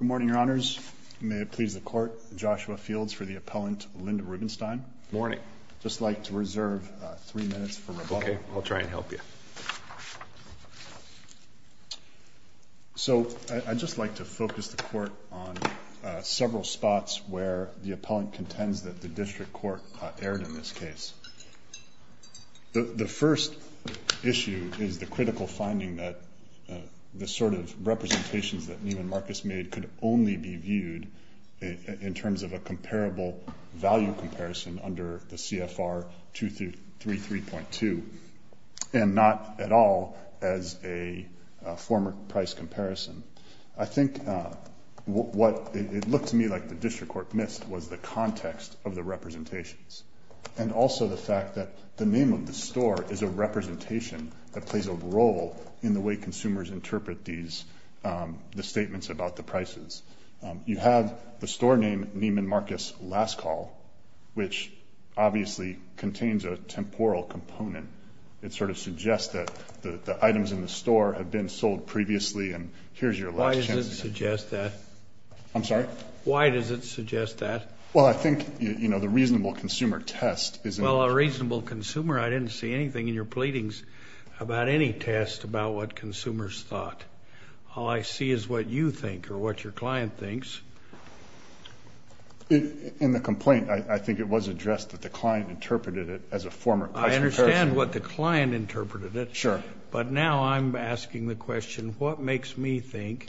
Good morning, Your Honors. May it please the Court, Joshua Fields for the Appellant Linda Rubenstein. Good morning. I'd just like to reserve three minutes for rebuttal. Okay, I'll try and help you. So I'd just like to focus the Court on several spots where the Appellant contends that the District Court erred in this case. The first issue is the critical finding that the sort of representations that Neiman Marcus made could only be viewed in terms of a comparable value comparison under the CFR 233.2 and not at all as a former price comparison. I think what it looked to me like the District Court missed was the context of the representations and also the fact that the name of the store is a representation that plays a role in the way consumers interpret these statements about the prices. You have the store name Neiman Marcus Last Call, which obviously contains a temporal component. It sort of suggests that the items in the store have been sold previously and here's your last chance to get them. Why does it suggest that? I'm sorry? Why does it suggest that? Well, I think, you know, the reasonable consumer test is in the complaint. Well, a reasonable consumer, I didn't see anything in your pleadings about any test about what consumers thought. All I see is what you think or what your client thinks. In the complaint, I think it was addressed that the client interpreted it as a former price comparison. I understand what the client interpreted it. Sure. But now I'm asking the question, what makes me think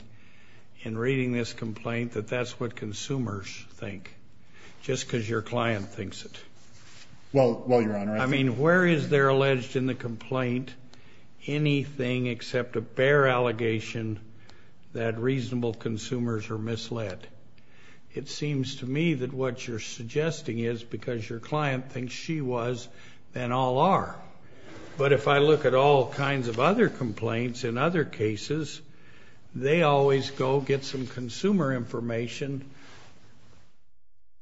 in reading this complaint that that's what consumers think just because your client thinks it? Well, Your Honor, I think. I mean, where is there alleged in the complaint anything except a bare allegation that reasonable consumers are misled? It seems to me that what you're suggesting is because your client thinks she was, then all are. But if I look at all kinds of other complaints in other cases, they always go get some consumer information,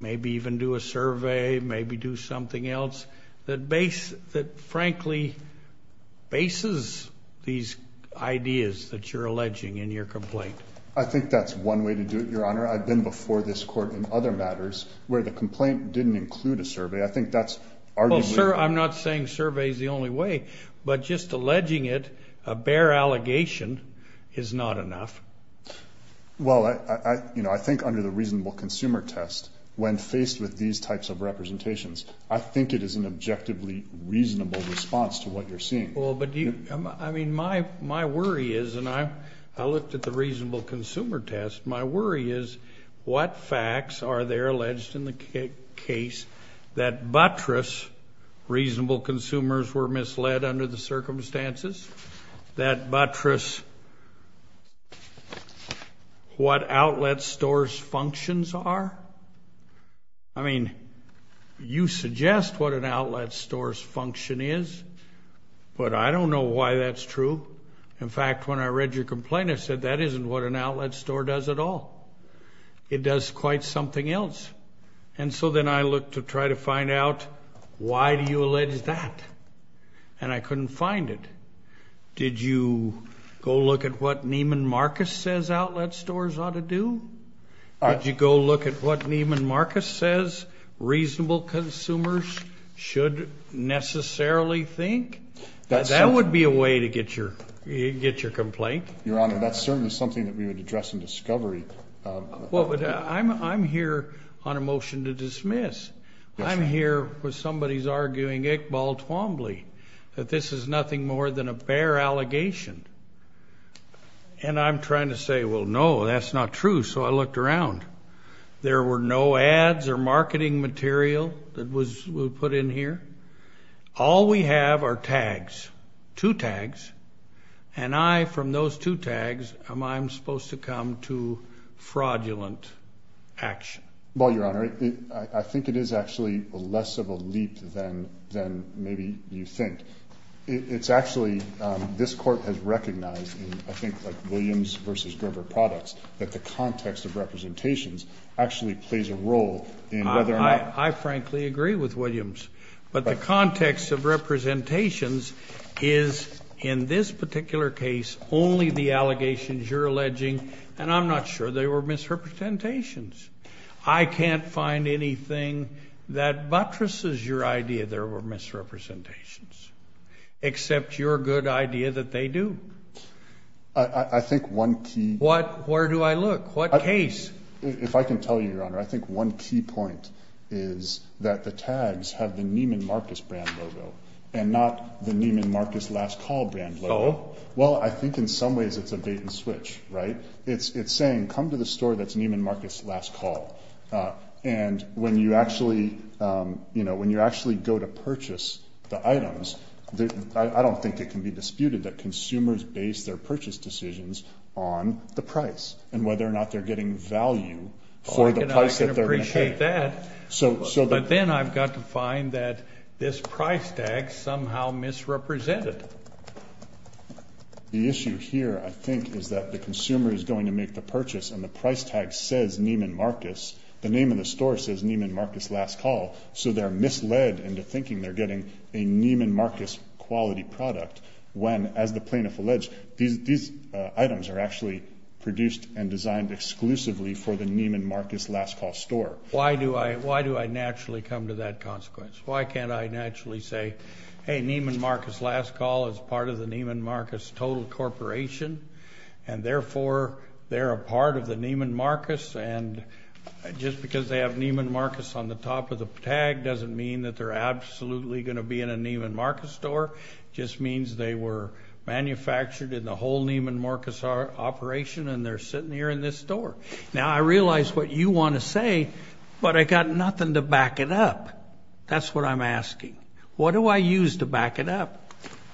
maybe even do a survey, maybe do something else, that frankly bases these ideas that you're alleging in your complaint. I think that's one way to do it, Your Honor. I've been before this court in other matters where the complaint didn't include a survey. I think that's arguably. Sir, I'm not saying survey is the only way, but just alleging it, a bare allegation, is not enough. Well, I think under the reasonable consumer test, when faced with these types of representations, I think it is an objectively reasonable response to what you're seeing. I mean, my worry is, and I looked at the reasonable consumer test, my worry is what facts are there alleged in the case that buttress reasonable consumers were misled under the circumstances, that buttress what outlet stores functions are? I mean, you suggest what an outlet store's function is, but I don't know why that's true. In fact, when I read your complaint, I said that isn't what an outlet store does at all. It does quite something else. And so then I looked to try to find out why do you allege that, and I couldn't find it. Did you go look at what Neiman Marcus says outlet stores ought to do? Did you go look at what Neiman Marcus says reasonable consumers should necessarily think? That would be a way to get your complaint. Your Honor, that's certainly something that we would address in discovery. I'm here on a motion to dismiss. I'm here where somebody's arguing ick ball twombly, that this is nothing more than a bare allegation. And I'm trying to say, well, no, that's not true. So I looked around. There were no ads or marketing material that was put in here. All we have are tags, two tags. And I, from those two tags, am I supposed to come to fraudulent action? Well, Your Honor, I think it is actually less of a leap than maybe you think. It's actually this court has recognized, I think, like Williams v. Gerber Products, that the context of representations actually plays a role in whether or not. I frankly agree with Williams. But the context of representations is, in this particular case, only the allegations you're alleging. And I'm not sure they were misrepresentations. I can't find anything that buttresses your idea there were misrepresentations, except your good idea that they do. I think one key. Where do I look? What case? If I can tell you, Your Honor, I think one key point is that the tags have the Neiman Marcus brand logo and not the Neiman Marcus last call brand logo. Well, I think in some ways it's a bait and switch, right? It's saying, come to the store that's Neiman Marcus last call. And when you actually go to purchase the items, I don't think it can be disputed that consumers base their purchase decisions on the price and whether or not they're getting value for the price that they're going to pay. I can appreciate that. But then I've got to find that this price tag somehow misrepresented. The issue here, I think, is that the consumer is going to make the purchase and the price tag says Neiman Marcus. The name of the store says Neiman Marcus last call. So they're misled into thinking they're getting a Neiman Marcus quality product when, as the plaintiff alleged, these items are actually produced and designed exclusively for the Neiman Marcus last call store. Why do I naturally come to that consequence? Why can't I naturally say, hey, Neiman Marcus last call is part of the Neiman Marcus total corporation, and therefore they're a part of the Neiman Marcus, and just because they have Neiman Marcus on the top of the tag doesn't mean that they're absolutely going to be in a Neiman Marcus store. It just means they were manufactured in the whole Neiman Marcus operation, and they're sitting here in this store. Now, I realize what you want to say, but I've got nothing to back it up. That's what I'm asking. What do I use to back it up?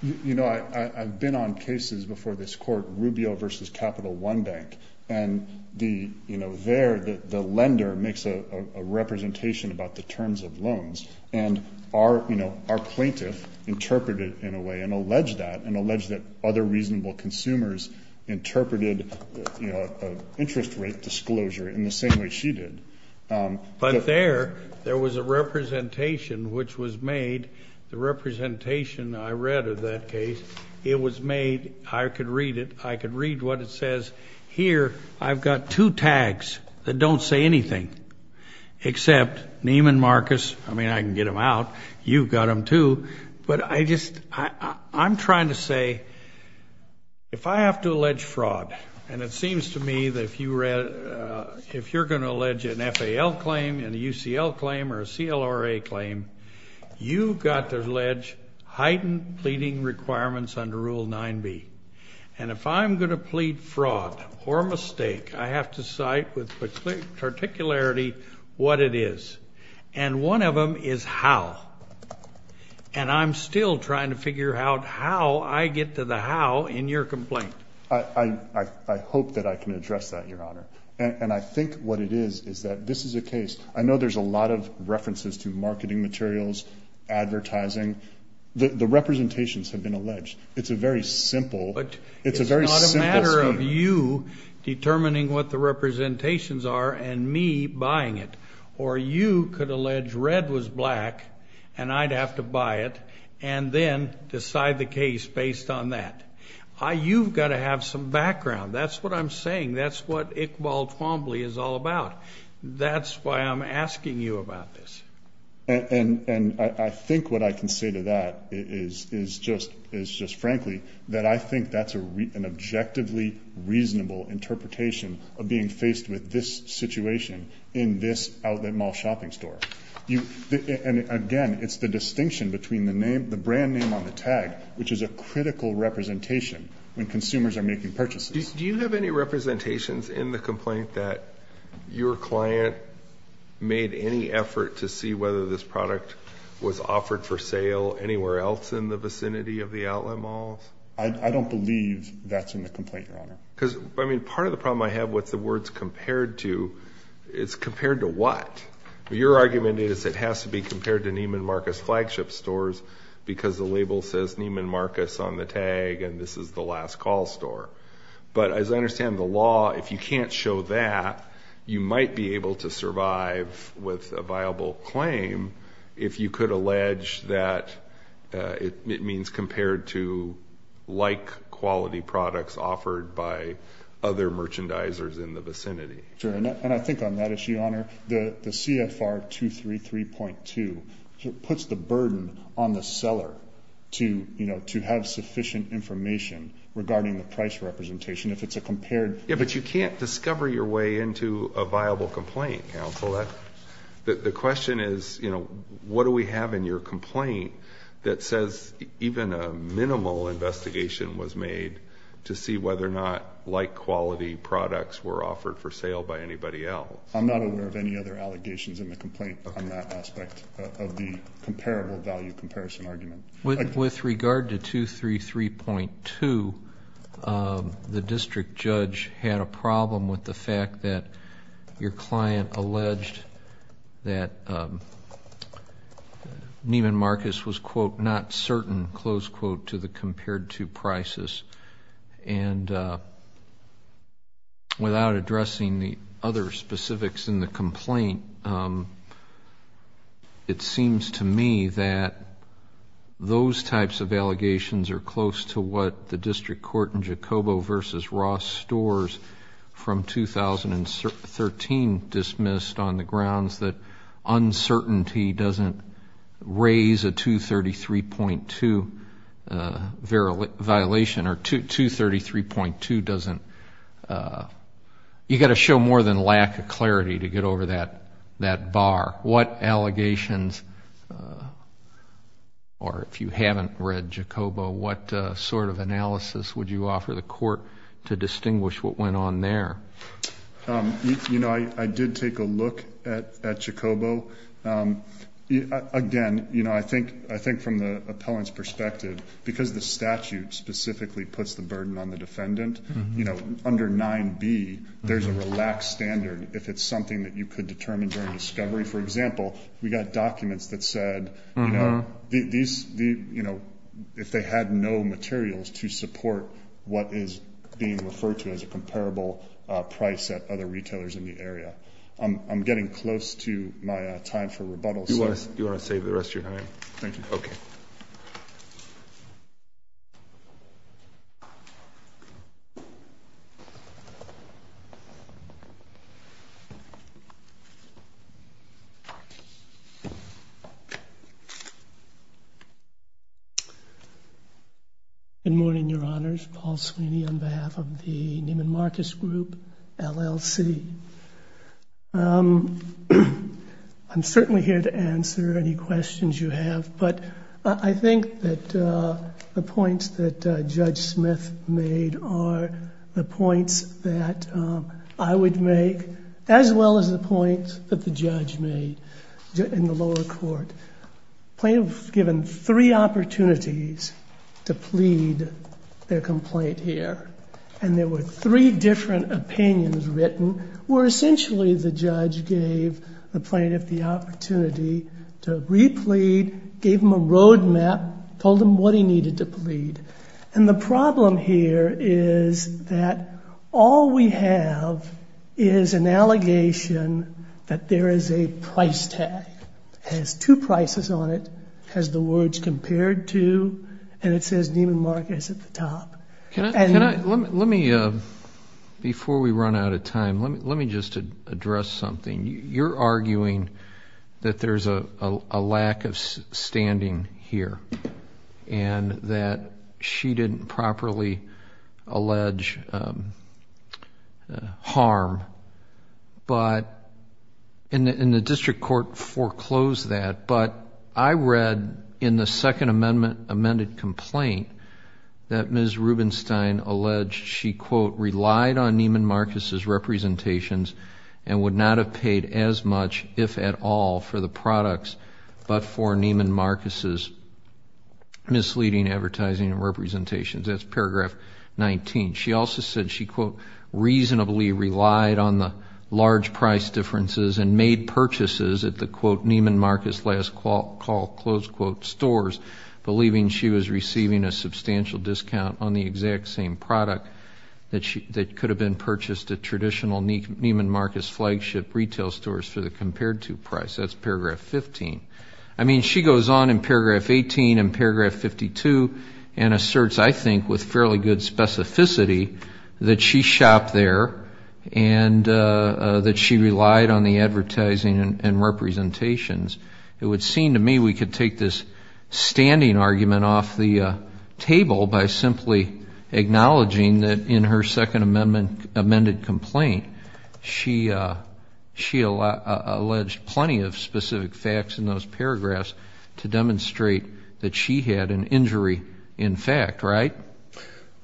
You know, I've been on cases before this court, Rubio versus Capital One Bank, and there the lender makes a representation about the terms of loans, and our plaintiff interpreted it in a way and alleged that, and alleged that other reasonable consumers interpreted an interest rate disclosure in the same way she did. But there, there was a representation which was made, the representation I read of that case, it was made. I could read it. I could read what it says. Here, I've got two tags that don't say anything, except Neiman Marcus. I mean, I can get them out. You've got them too. But I just, I'm trying to say, if I have to allege fraud, and it seems to me that if you're going to allege an FAL claim and a UCL claim or a CLRA claim, you've got to allege heightened pleading requirements under Rule 9B. And if I'm going to plead fraud or mistake, I have to cite with particularity what it is. And one of them is how. And I'm still trying to figure out how I get to the how in your complaint. I hope that I can address that, Your Honor. And I think what it is is that this is a case. I know there's a lot of references to marketing materials, advertising. The representations have been alleged. It's a very simple scheme. But it's not a matter of you determining what the representations are and me buying it. Or you could allege red was black, and I'd have to buy it, and then decide the case based on that. You've got to have some background. That's what I'm saying. That's what Iqbal Twombly is all about. That's why I'm asking you about this. And I think what I can say to that is just frankly that I think that's an objectively reasonable interpretation of being faced with this situation in this outlet mall shopping store. And again, it's the distinction between the brand name on the tag, which is a critical representation when consumers are making purchases. Do you have any representations in the complaint that your client made any effort to see whether this product was offered for sale anywhere else in the vicinity of the outlet malls? I don't believe that's in the complaint, Your Honor. Because, I mean, part of the problem I have with the words compared to is compared to what? Your argument is it has to be compared to Neiman Marcus flagship stores because the label says Neiman Marcus on the tag, and this is the last call store. But as I understand the law, if you can't show that, you might be able to survive with a viable claim if you could allege that it means compared to like quality products offered by other merchandisers in the vicinity. And I think on that issue, Your Honor, the CFR 233.2 puts the burden on the seller to have sufficient information regarding the price representation if it's a compared. Yeah, but you can't discover your way into a viable complaint, counsel. The question is what do we have in your complaint that says even a minimal investigation was made to see whether or not like quality products were offered for sale by anybody else? I'm not aware of any other allegations in the complaint on that aspect of the comparable value comparison argument. With regard to 233.2, the district judge had a problem with the fact that your client alleged that Neiman Marcus was, quote, not certain, close quote, to the compared to prices. And without addressing the other specifics in the complaint, it seems to me that those types of allegations are close to what the district court in Jacobo v. Ross Stores from 2013 dismissed on the grounds that uncertainty doesn't raise a 233.2 violation or 233.2 doesn't, you've got to show more than lack of clarity to get over that bar. What allegations, or if you haven't read Jacobo, what sort of analysis would you offer the court to distinguish what went on there? You know, I did take a look at Jacobo. Again, you know, I think from the appellant's perspective, because the statute specifically puts the burden on the defendant, you know, under 9B there's a relaxed standard if it's something that you could determine during discovery. For example, we got documents that said, you know, if they had no materials to support what is being referred to as a comparable price at other retailers in the area. I'm getting close to my time for rebuttals. Do you want to save the rest of your time? Thank you. Okay. Good morning, Your Honors. Paul Sweeney on behalf of the Neiman Marcus Group, LLC. I'm certainly here to answer any questions you have. But I think that the points that Judge Smith made are the points that I would make, as well as the points that the judge made in the lower court. Plaintiffs were given three opportunities to plead their complaint here. And there were three different opinions written where essentially the judge gave the plaintiff the opportunity to replead, gave him a roadmap, told him what he needed to plead. And the problem here is that all we have is an allegation that there is a price tag. It has two prices on it. It has the words compared to, and it says Neiman Marcus at the top. Before we run out of time, let me just address something. You're arguing that there's a lack of standing here and that she didn't properly allege harm. And the district court foreclosed that. But I read in the Second Amendment amended complaint that Ms. Rubenstein alleged she, quote, relied on Neiman Marcus's representations and would not have paid as much, if at all, for the products, but for Neiman Marcus's misleading advertising and representations. That's paragraph 19. She also said she, quote, reasonably relied on the large price differences and made purchases at the, quote, Neiman Marcus last call, close quote, stores, believing she was receiving a substantial discount on the exact same product that could have been purchased at traditional Neiman Marcus flagship retail stores for the compared to price. That's paragraph 15. I mean, she goes on in paragraph 18 and paragraph 52 and asserts, I think, with fairly good specificity that she shopped there and that she relied on the advertising and representations. It would seem to me we could take this standing argument off the table by simply acknowledging that in her Second Amendment amended complaint she alleged plenty of specific facts in those paragraphs to demonstrate that she had an injury in fact, right?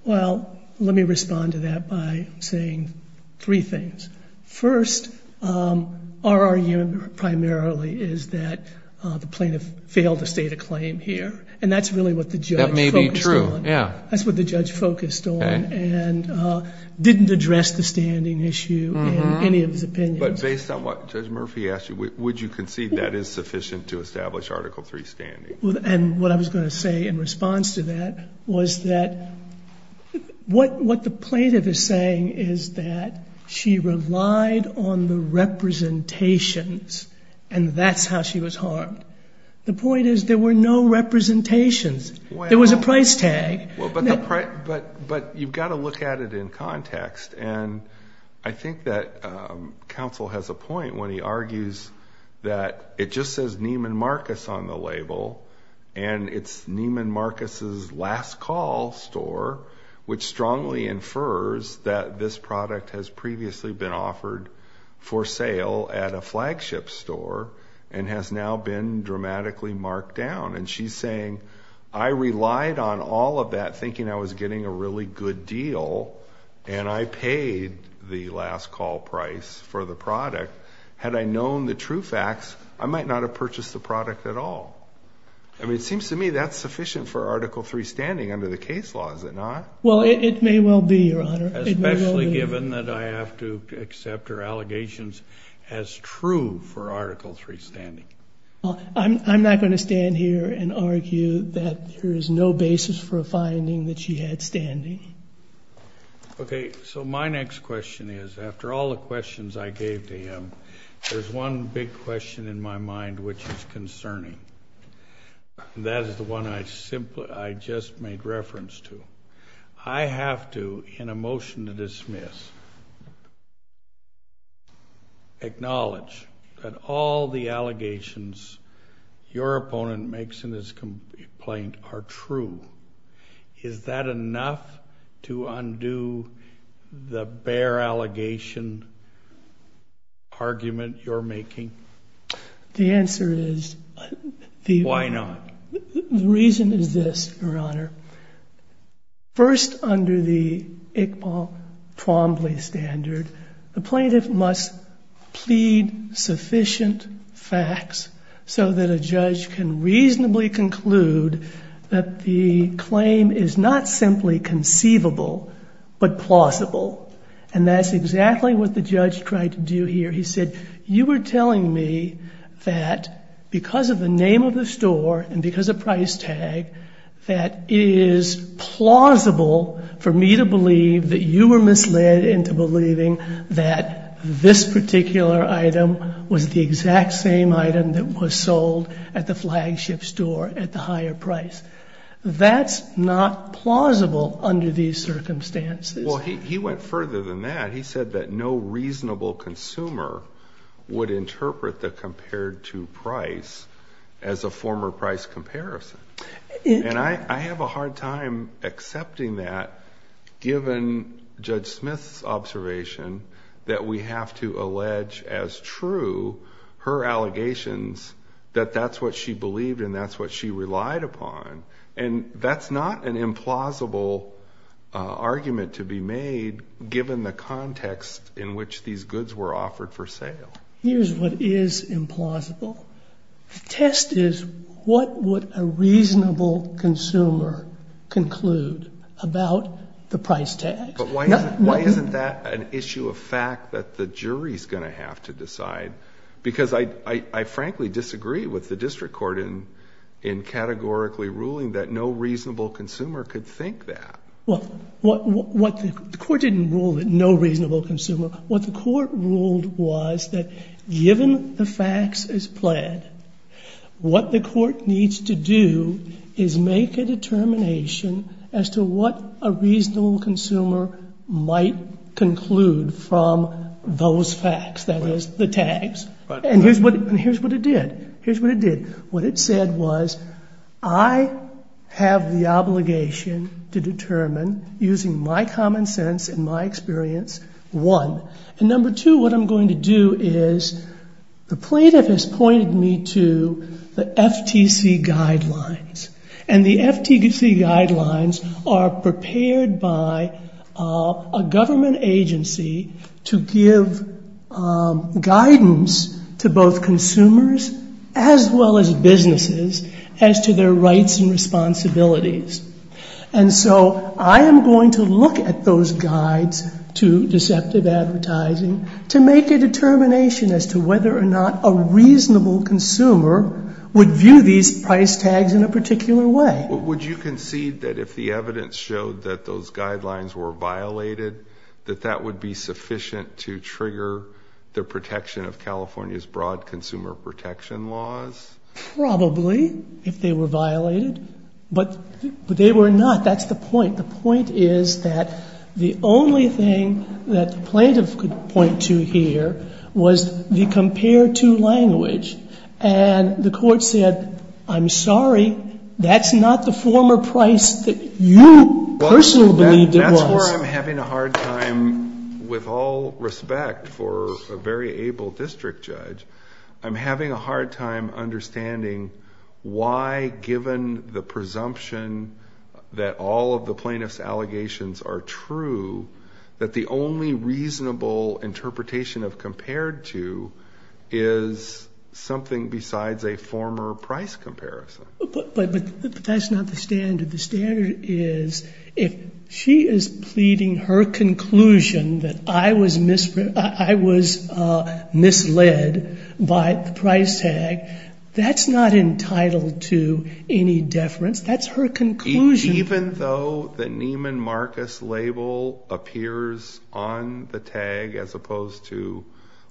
Well, let me respond to that by saying three things. First, our argument primarily is that the plaintiff failed to state a claim here, and that's really what the judge focused on. That may be true, yeah. That's what the judge focused on and didn't address the standing issue in any of his opinions. But based on what Judge Murphy asked you, would you concede that is sufficient to establish Article III standing? And what I was going to say in response to that was that what the plaintiff is saying is that she relied on the representations and that's how she was harmed. The point is there were no representations. There was a price tag. But you've got to look at it in context. And I think that counsel has a point when he argues that it just says Neiman Marcus on the label and it's Neiman Marcus' last call store, which strongly infers that this product has previously been offered for sale at a flagship store and has now been dramatically marked down. And she's saying, I relied on all of that thinking I was getting a really good deal and I paid the last call price for the product. Had I known the true facts, I might not have purchased the product at all. I mean, it seems to me that's sufficient for Article III standing under the case law, is it not? Well, it may well be, Your Honor. Especially given that I have to accept her allegations as true for Article III standing. I'm not going to stand here and argue that there is no basis for a finding that she had standing. Okay, so my next question is, after all the questions I gave to him, there's one big question in my mind which is concerning. That is the one I just made reference to. I have to, in a motion to dismiss, acknowledge that all the allegations your opponent makes in this complaint are true. Is that enough to undo the bare allegation argument you're making? The answer is... Why not? The reason is this, Your Honor. First, under the Iqbal Twombly standard, the plaintiff must plead sufficient facts so that a judge can reasonably conclude that the claim is not simply conceivable but plausible. And that's exactly what the judge tried to do here. He said, you were telling me that because of the name of the store and because of price tag, that it is plausible for me to believe that you were misled into believing that this particular item was the exact same item that was sold at the flagship store at the higher price. That's not plausible under these circumstances. Well, he went further than that. He said that no reasonable consumer would interpret the compared to price as a former price comparison. And I have a hard time accepting that given Judge Smith's observation that we have to allege as true her allegations that that's what she believed and that's what she relied upon. And that's not an implausible argument to be made given the context in which these goods were offered for sale. Here's what is implausible. The test is what would a reasonable consumer conclude about the price tag? But why isn't that an issue of fact that the jury's going to have to decide? Because I frankly disagree with the district court in categorically ruling that no reasonable consumer could think that. Well, the court didn't rule that no reasonable consumer. What the court ruled was that given the facts as planned, what the court needs to do is make a determination as to what a reasonable consumer might conclude from those facts, that is, the tags. And here's what it did. Here's what it did. What it said was I have the obligation to determine using my common sense and my experience, one. And number two, what I'm going to do is the plaintiff has pointed me to the FTC guidelines. And the FTC guidelines are prepared by a government agency to give guidance to both consumers as well as businesses as to their rights and responsibilities. And so I am going to look at those guides to deceptive advertising to make a determination as to whether or not a reasonable consumer would view these price tags in a particular way. Would you concede that if the evidence showed that those guidelines were violated, that that would be sufficient to trigger the protection of California's broad consumer protection laws? Probably, if they were violated. That's the point. The point is that the only thing that the plaintiff could point to here was the compare-to language. And the court said, I'm sorry, that's not the former price that you personally believed it was. That's where I'm having a hard time, with all respect for a very able district judge, I'm having a hard time understanding why, given the presumption that all of the plaintiff's allegations are true, that the only reasonable interpretation of compare-to is something besides a former price comparison. But that's not the standard. The standard is if she is pleading her conclusion that I was misled by the price tag, that's not entitled to any deference. That's her conclusion. Even though the Neiman Marcus label appears on the tag as opposed to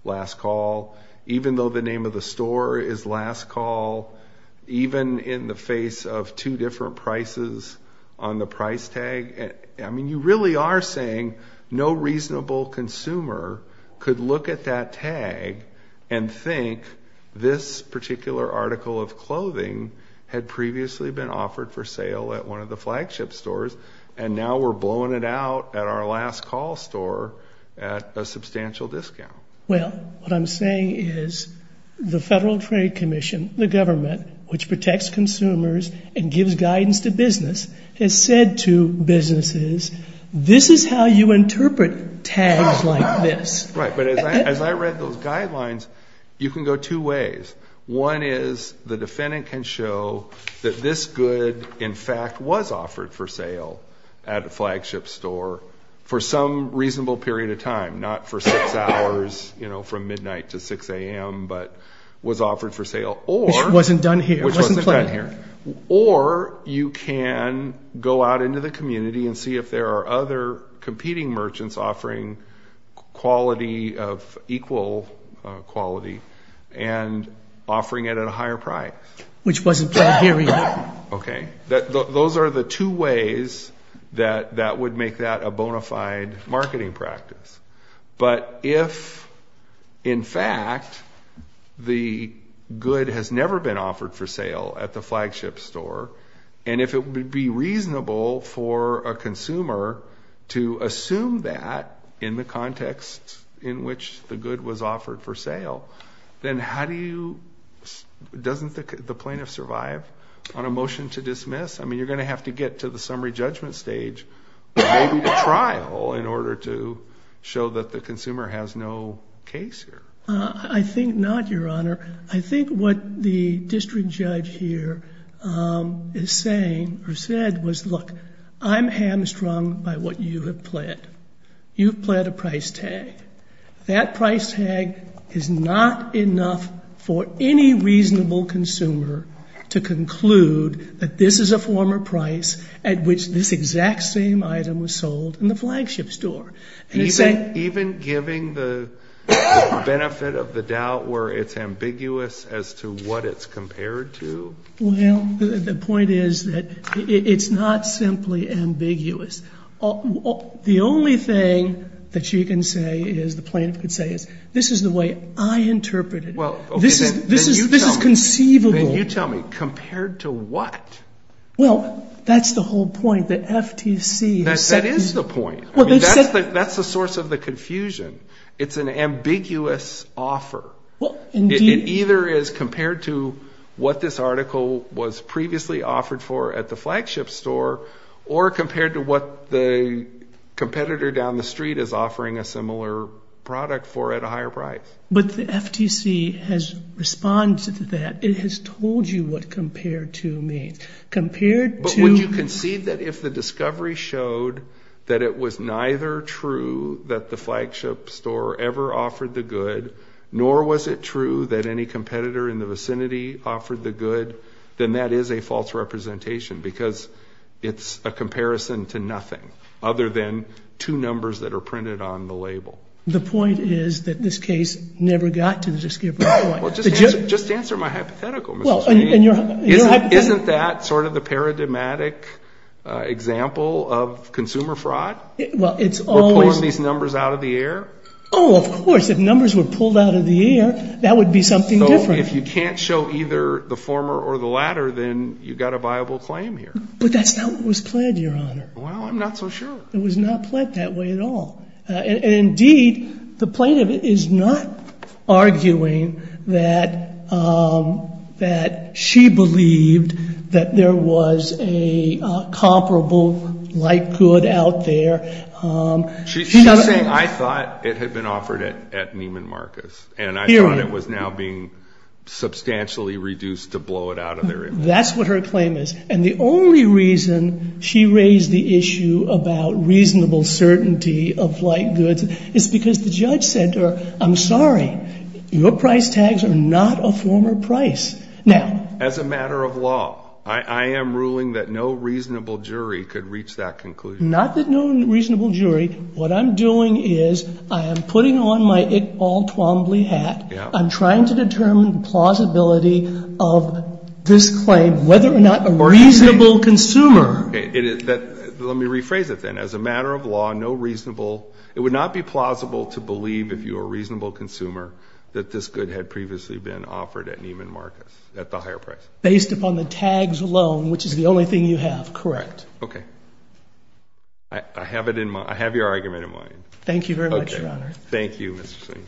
last call, even though the name of the store is last call, even in the face of two different prices on the price tag, I mean, you really are saying no reasonable consumer could look at that tag and think this particular article of clothing had previously been offered for sale at one of the flagship stores, and now we're blowing it out at our last call store at a substantial discount. Well, what I'm saying is the Federal Trade Commission, the government, which protects consumers and gives guidance to business, has said to businesses, this is how you interpret tags like this. Right. But as I read those guidelines, you can go two ways. One is the defendant can show that this good, in fact, was offered for sale at a flagship store for some reasonable period of time, not for six hours from midnight to 6 a.m., but was offered for sale. Which wasn't done here. Which wasn't done here. Or you can go out into the community and see if there are other competing merchants offering quality of equal quality and offering it at a higher price. Which wasn't done here either. Okay. Those are the two ways that would make that a bona fide marketing practice. But if, in fact, the good has never been offered for sale at the flagship store, and if it would be reasonable for a consumer to assume that in the context in which the good was offered for sale, then how do you, doesn't the plaintiff survive on a motion to dismiss? I mean, you're going to have to get to the summary judgment stage, maybe the trial, in order to show that the consumer has no case here. I think not, Your Honor. I think what the district judge here is saying or said was, look, I'm hamstrung by what you have pled. You've pled a price tag. That price tag is not enough for any reasonable consumer to conclude that this is a former price at which this exact same item was sold in the flagship store. Even giving the benefit of the doubt where it's ambiguous as to what it's compared to? Well, the point is that it's not simply ambiguous. The only thing that you can say is, the plaintiff can say is, this is the way I interpreted it. This is conceivable. Then you tell me, compared to what? Well, that's the whole point, that FTC has said. That is the point. That's the source of the confusion. It's an ambiguous offer. It either is compared to what this article was previously offered for at the flagship store or compared to what the competitor down the street is offering a similar product for at a higher price. But the FTC has responded to that. It has told you what compared to means. But would you concede that if the discovery showed that it was neither true that the flagship store ever offered the good, nor was it true that any competitor in the vicinity offered the good, then that is a false representation? Because it's a comparison to nothing other than two numbers that are printed on the label. The point is that this case never got to the discovery point. Well, just answer my hypothetical, Mr. Sweeney. Isn't that sort of the paradigmatic example of consumer fraud? We're pulling these numbers out of the air? Oh, of course. If numbers were pulled out of the air, that would be something different. If you can't show either the former or the latter, then you've got a viable claim here. But that's not what was pled, Your Honor. Well, I'm not so sure. It was not pled that way at all. Indeed, the plaintiff is not arguing that she believed that there was a comparable like good out there. She's saying I thought it had been offered at Neiman Marcus. And I thought it was now being substantially reduced to blow it out of their image. That's what her claim is. And the only reason she raised the issue about reasonable certainty of like goods is because the judge said to her, I'm sorry, your price tags are not a former price. Now as a matter of law, I am ruling that no reasonable jury could reach that conclusion. Not that no reasonable jury. What I'm doing is I am putting on my Iqbal Twombly hat. I'm trying to determine the plausibility of this claim, whether or not a reasonable consumer. Let me rephrase it then. As a matter of law, no reasonable, it would not be plausible to believe, if you were a reasonable consumer, that this good had previously been offered at Neiman Marcus at the higher price. Based upon the tags alone, which is the only thing you have. Correct. Okay. I have it in mind. I have your argument in mind. Thank you very much, Your Honor. Okay. Thank you, Mr. Singh.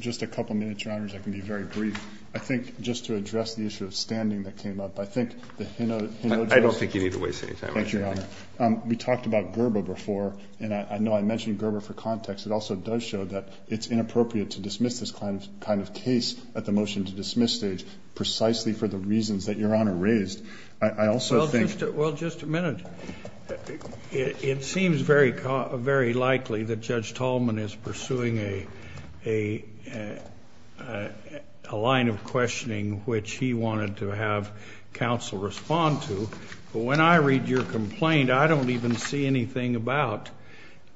Just a couple minutes, Your Honors. I can be very brief. I think just to address the issue of standing that came up, I think the Hinojosa. I don't think you need to waste any time. Thank you, Your Honor. We talked about Gerber before, and I know I mentioned Gerber for context. It also does show that it's inappropriate to dismiss this kind of case at the motion to dismiss stage, precisely for the reasons that Your Honor raised. I also think. Well, just a minute. It seems very likely that Judge Tolman is pursuing a line of questioning, which he wanted to have counsel respond to. But when I read your complaint, I don't even see anything about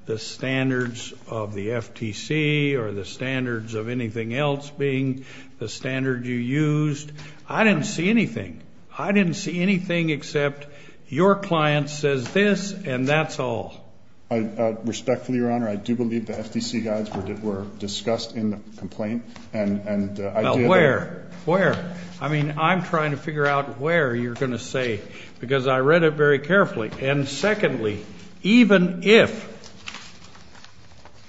the standards of the FTC or the standards of anything else being the standard you used. I didn't see anything. I didn't see anything except your client says this and that's all. Respectfully, Your Honor, I do believe the FTC guides were discussed in the complaint. Now, where? Where? I mean, I'm trying to figure out where you're going to say, because I read it very carefully. And secondly, even if.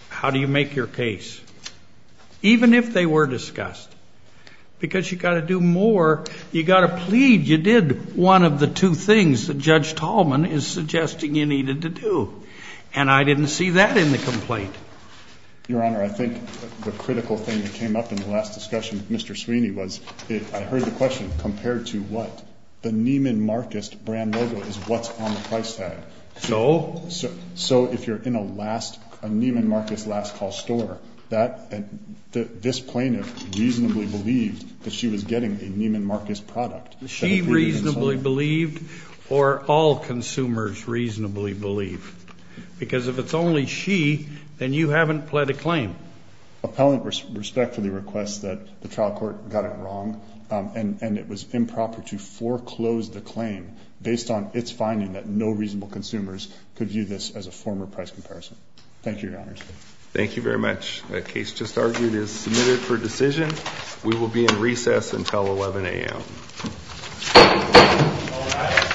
How do you make your case? Even if they were discussed. Because you've got to do more. You've got to plead. You did one of the two things that Judge Tolman is suggesting you needed to do. And I didn't see that in the complaint. Your Honor, I think the critical thing that came up in the last discussion with Mr. Sweeney was, I heard the question, compared to what? The Neiman Marcus brand logo is what's on the price tag. So? So if you're in a Neiman Marcus last call store, this plaintiff reasonably believed that she was getting a Neiman Marcus product. She reasonably believed or all consumers reasonably believe? Because if it's only she, then you haven't pled a claim. Appellant respectfully requests that the trial court got it wrong, and it was improper to foreclose the claim based on its finding that no reasonable consumers could view this as a former price comparison. Thank you, Your Honor. Thank you very much. The case just argued is submitted for decision. We will be in recess until 11 a.m.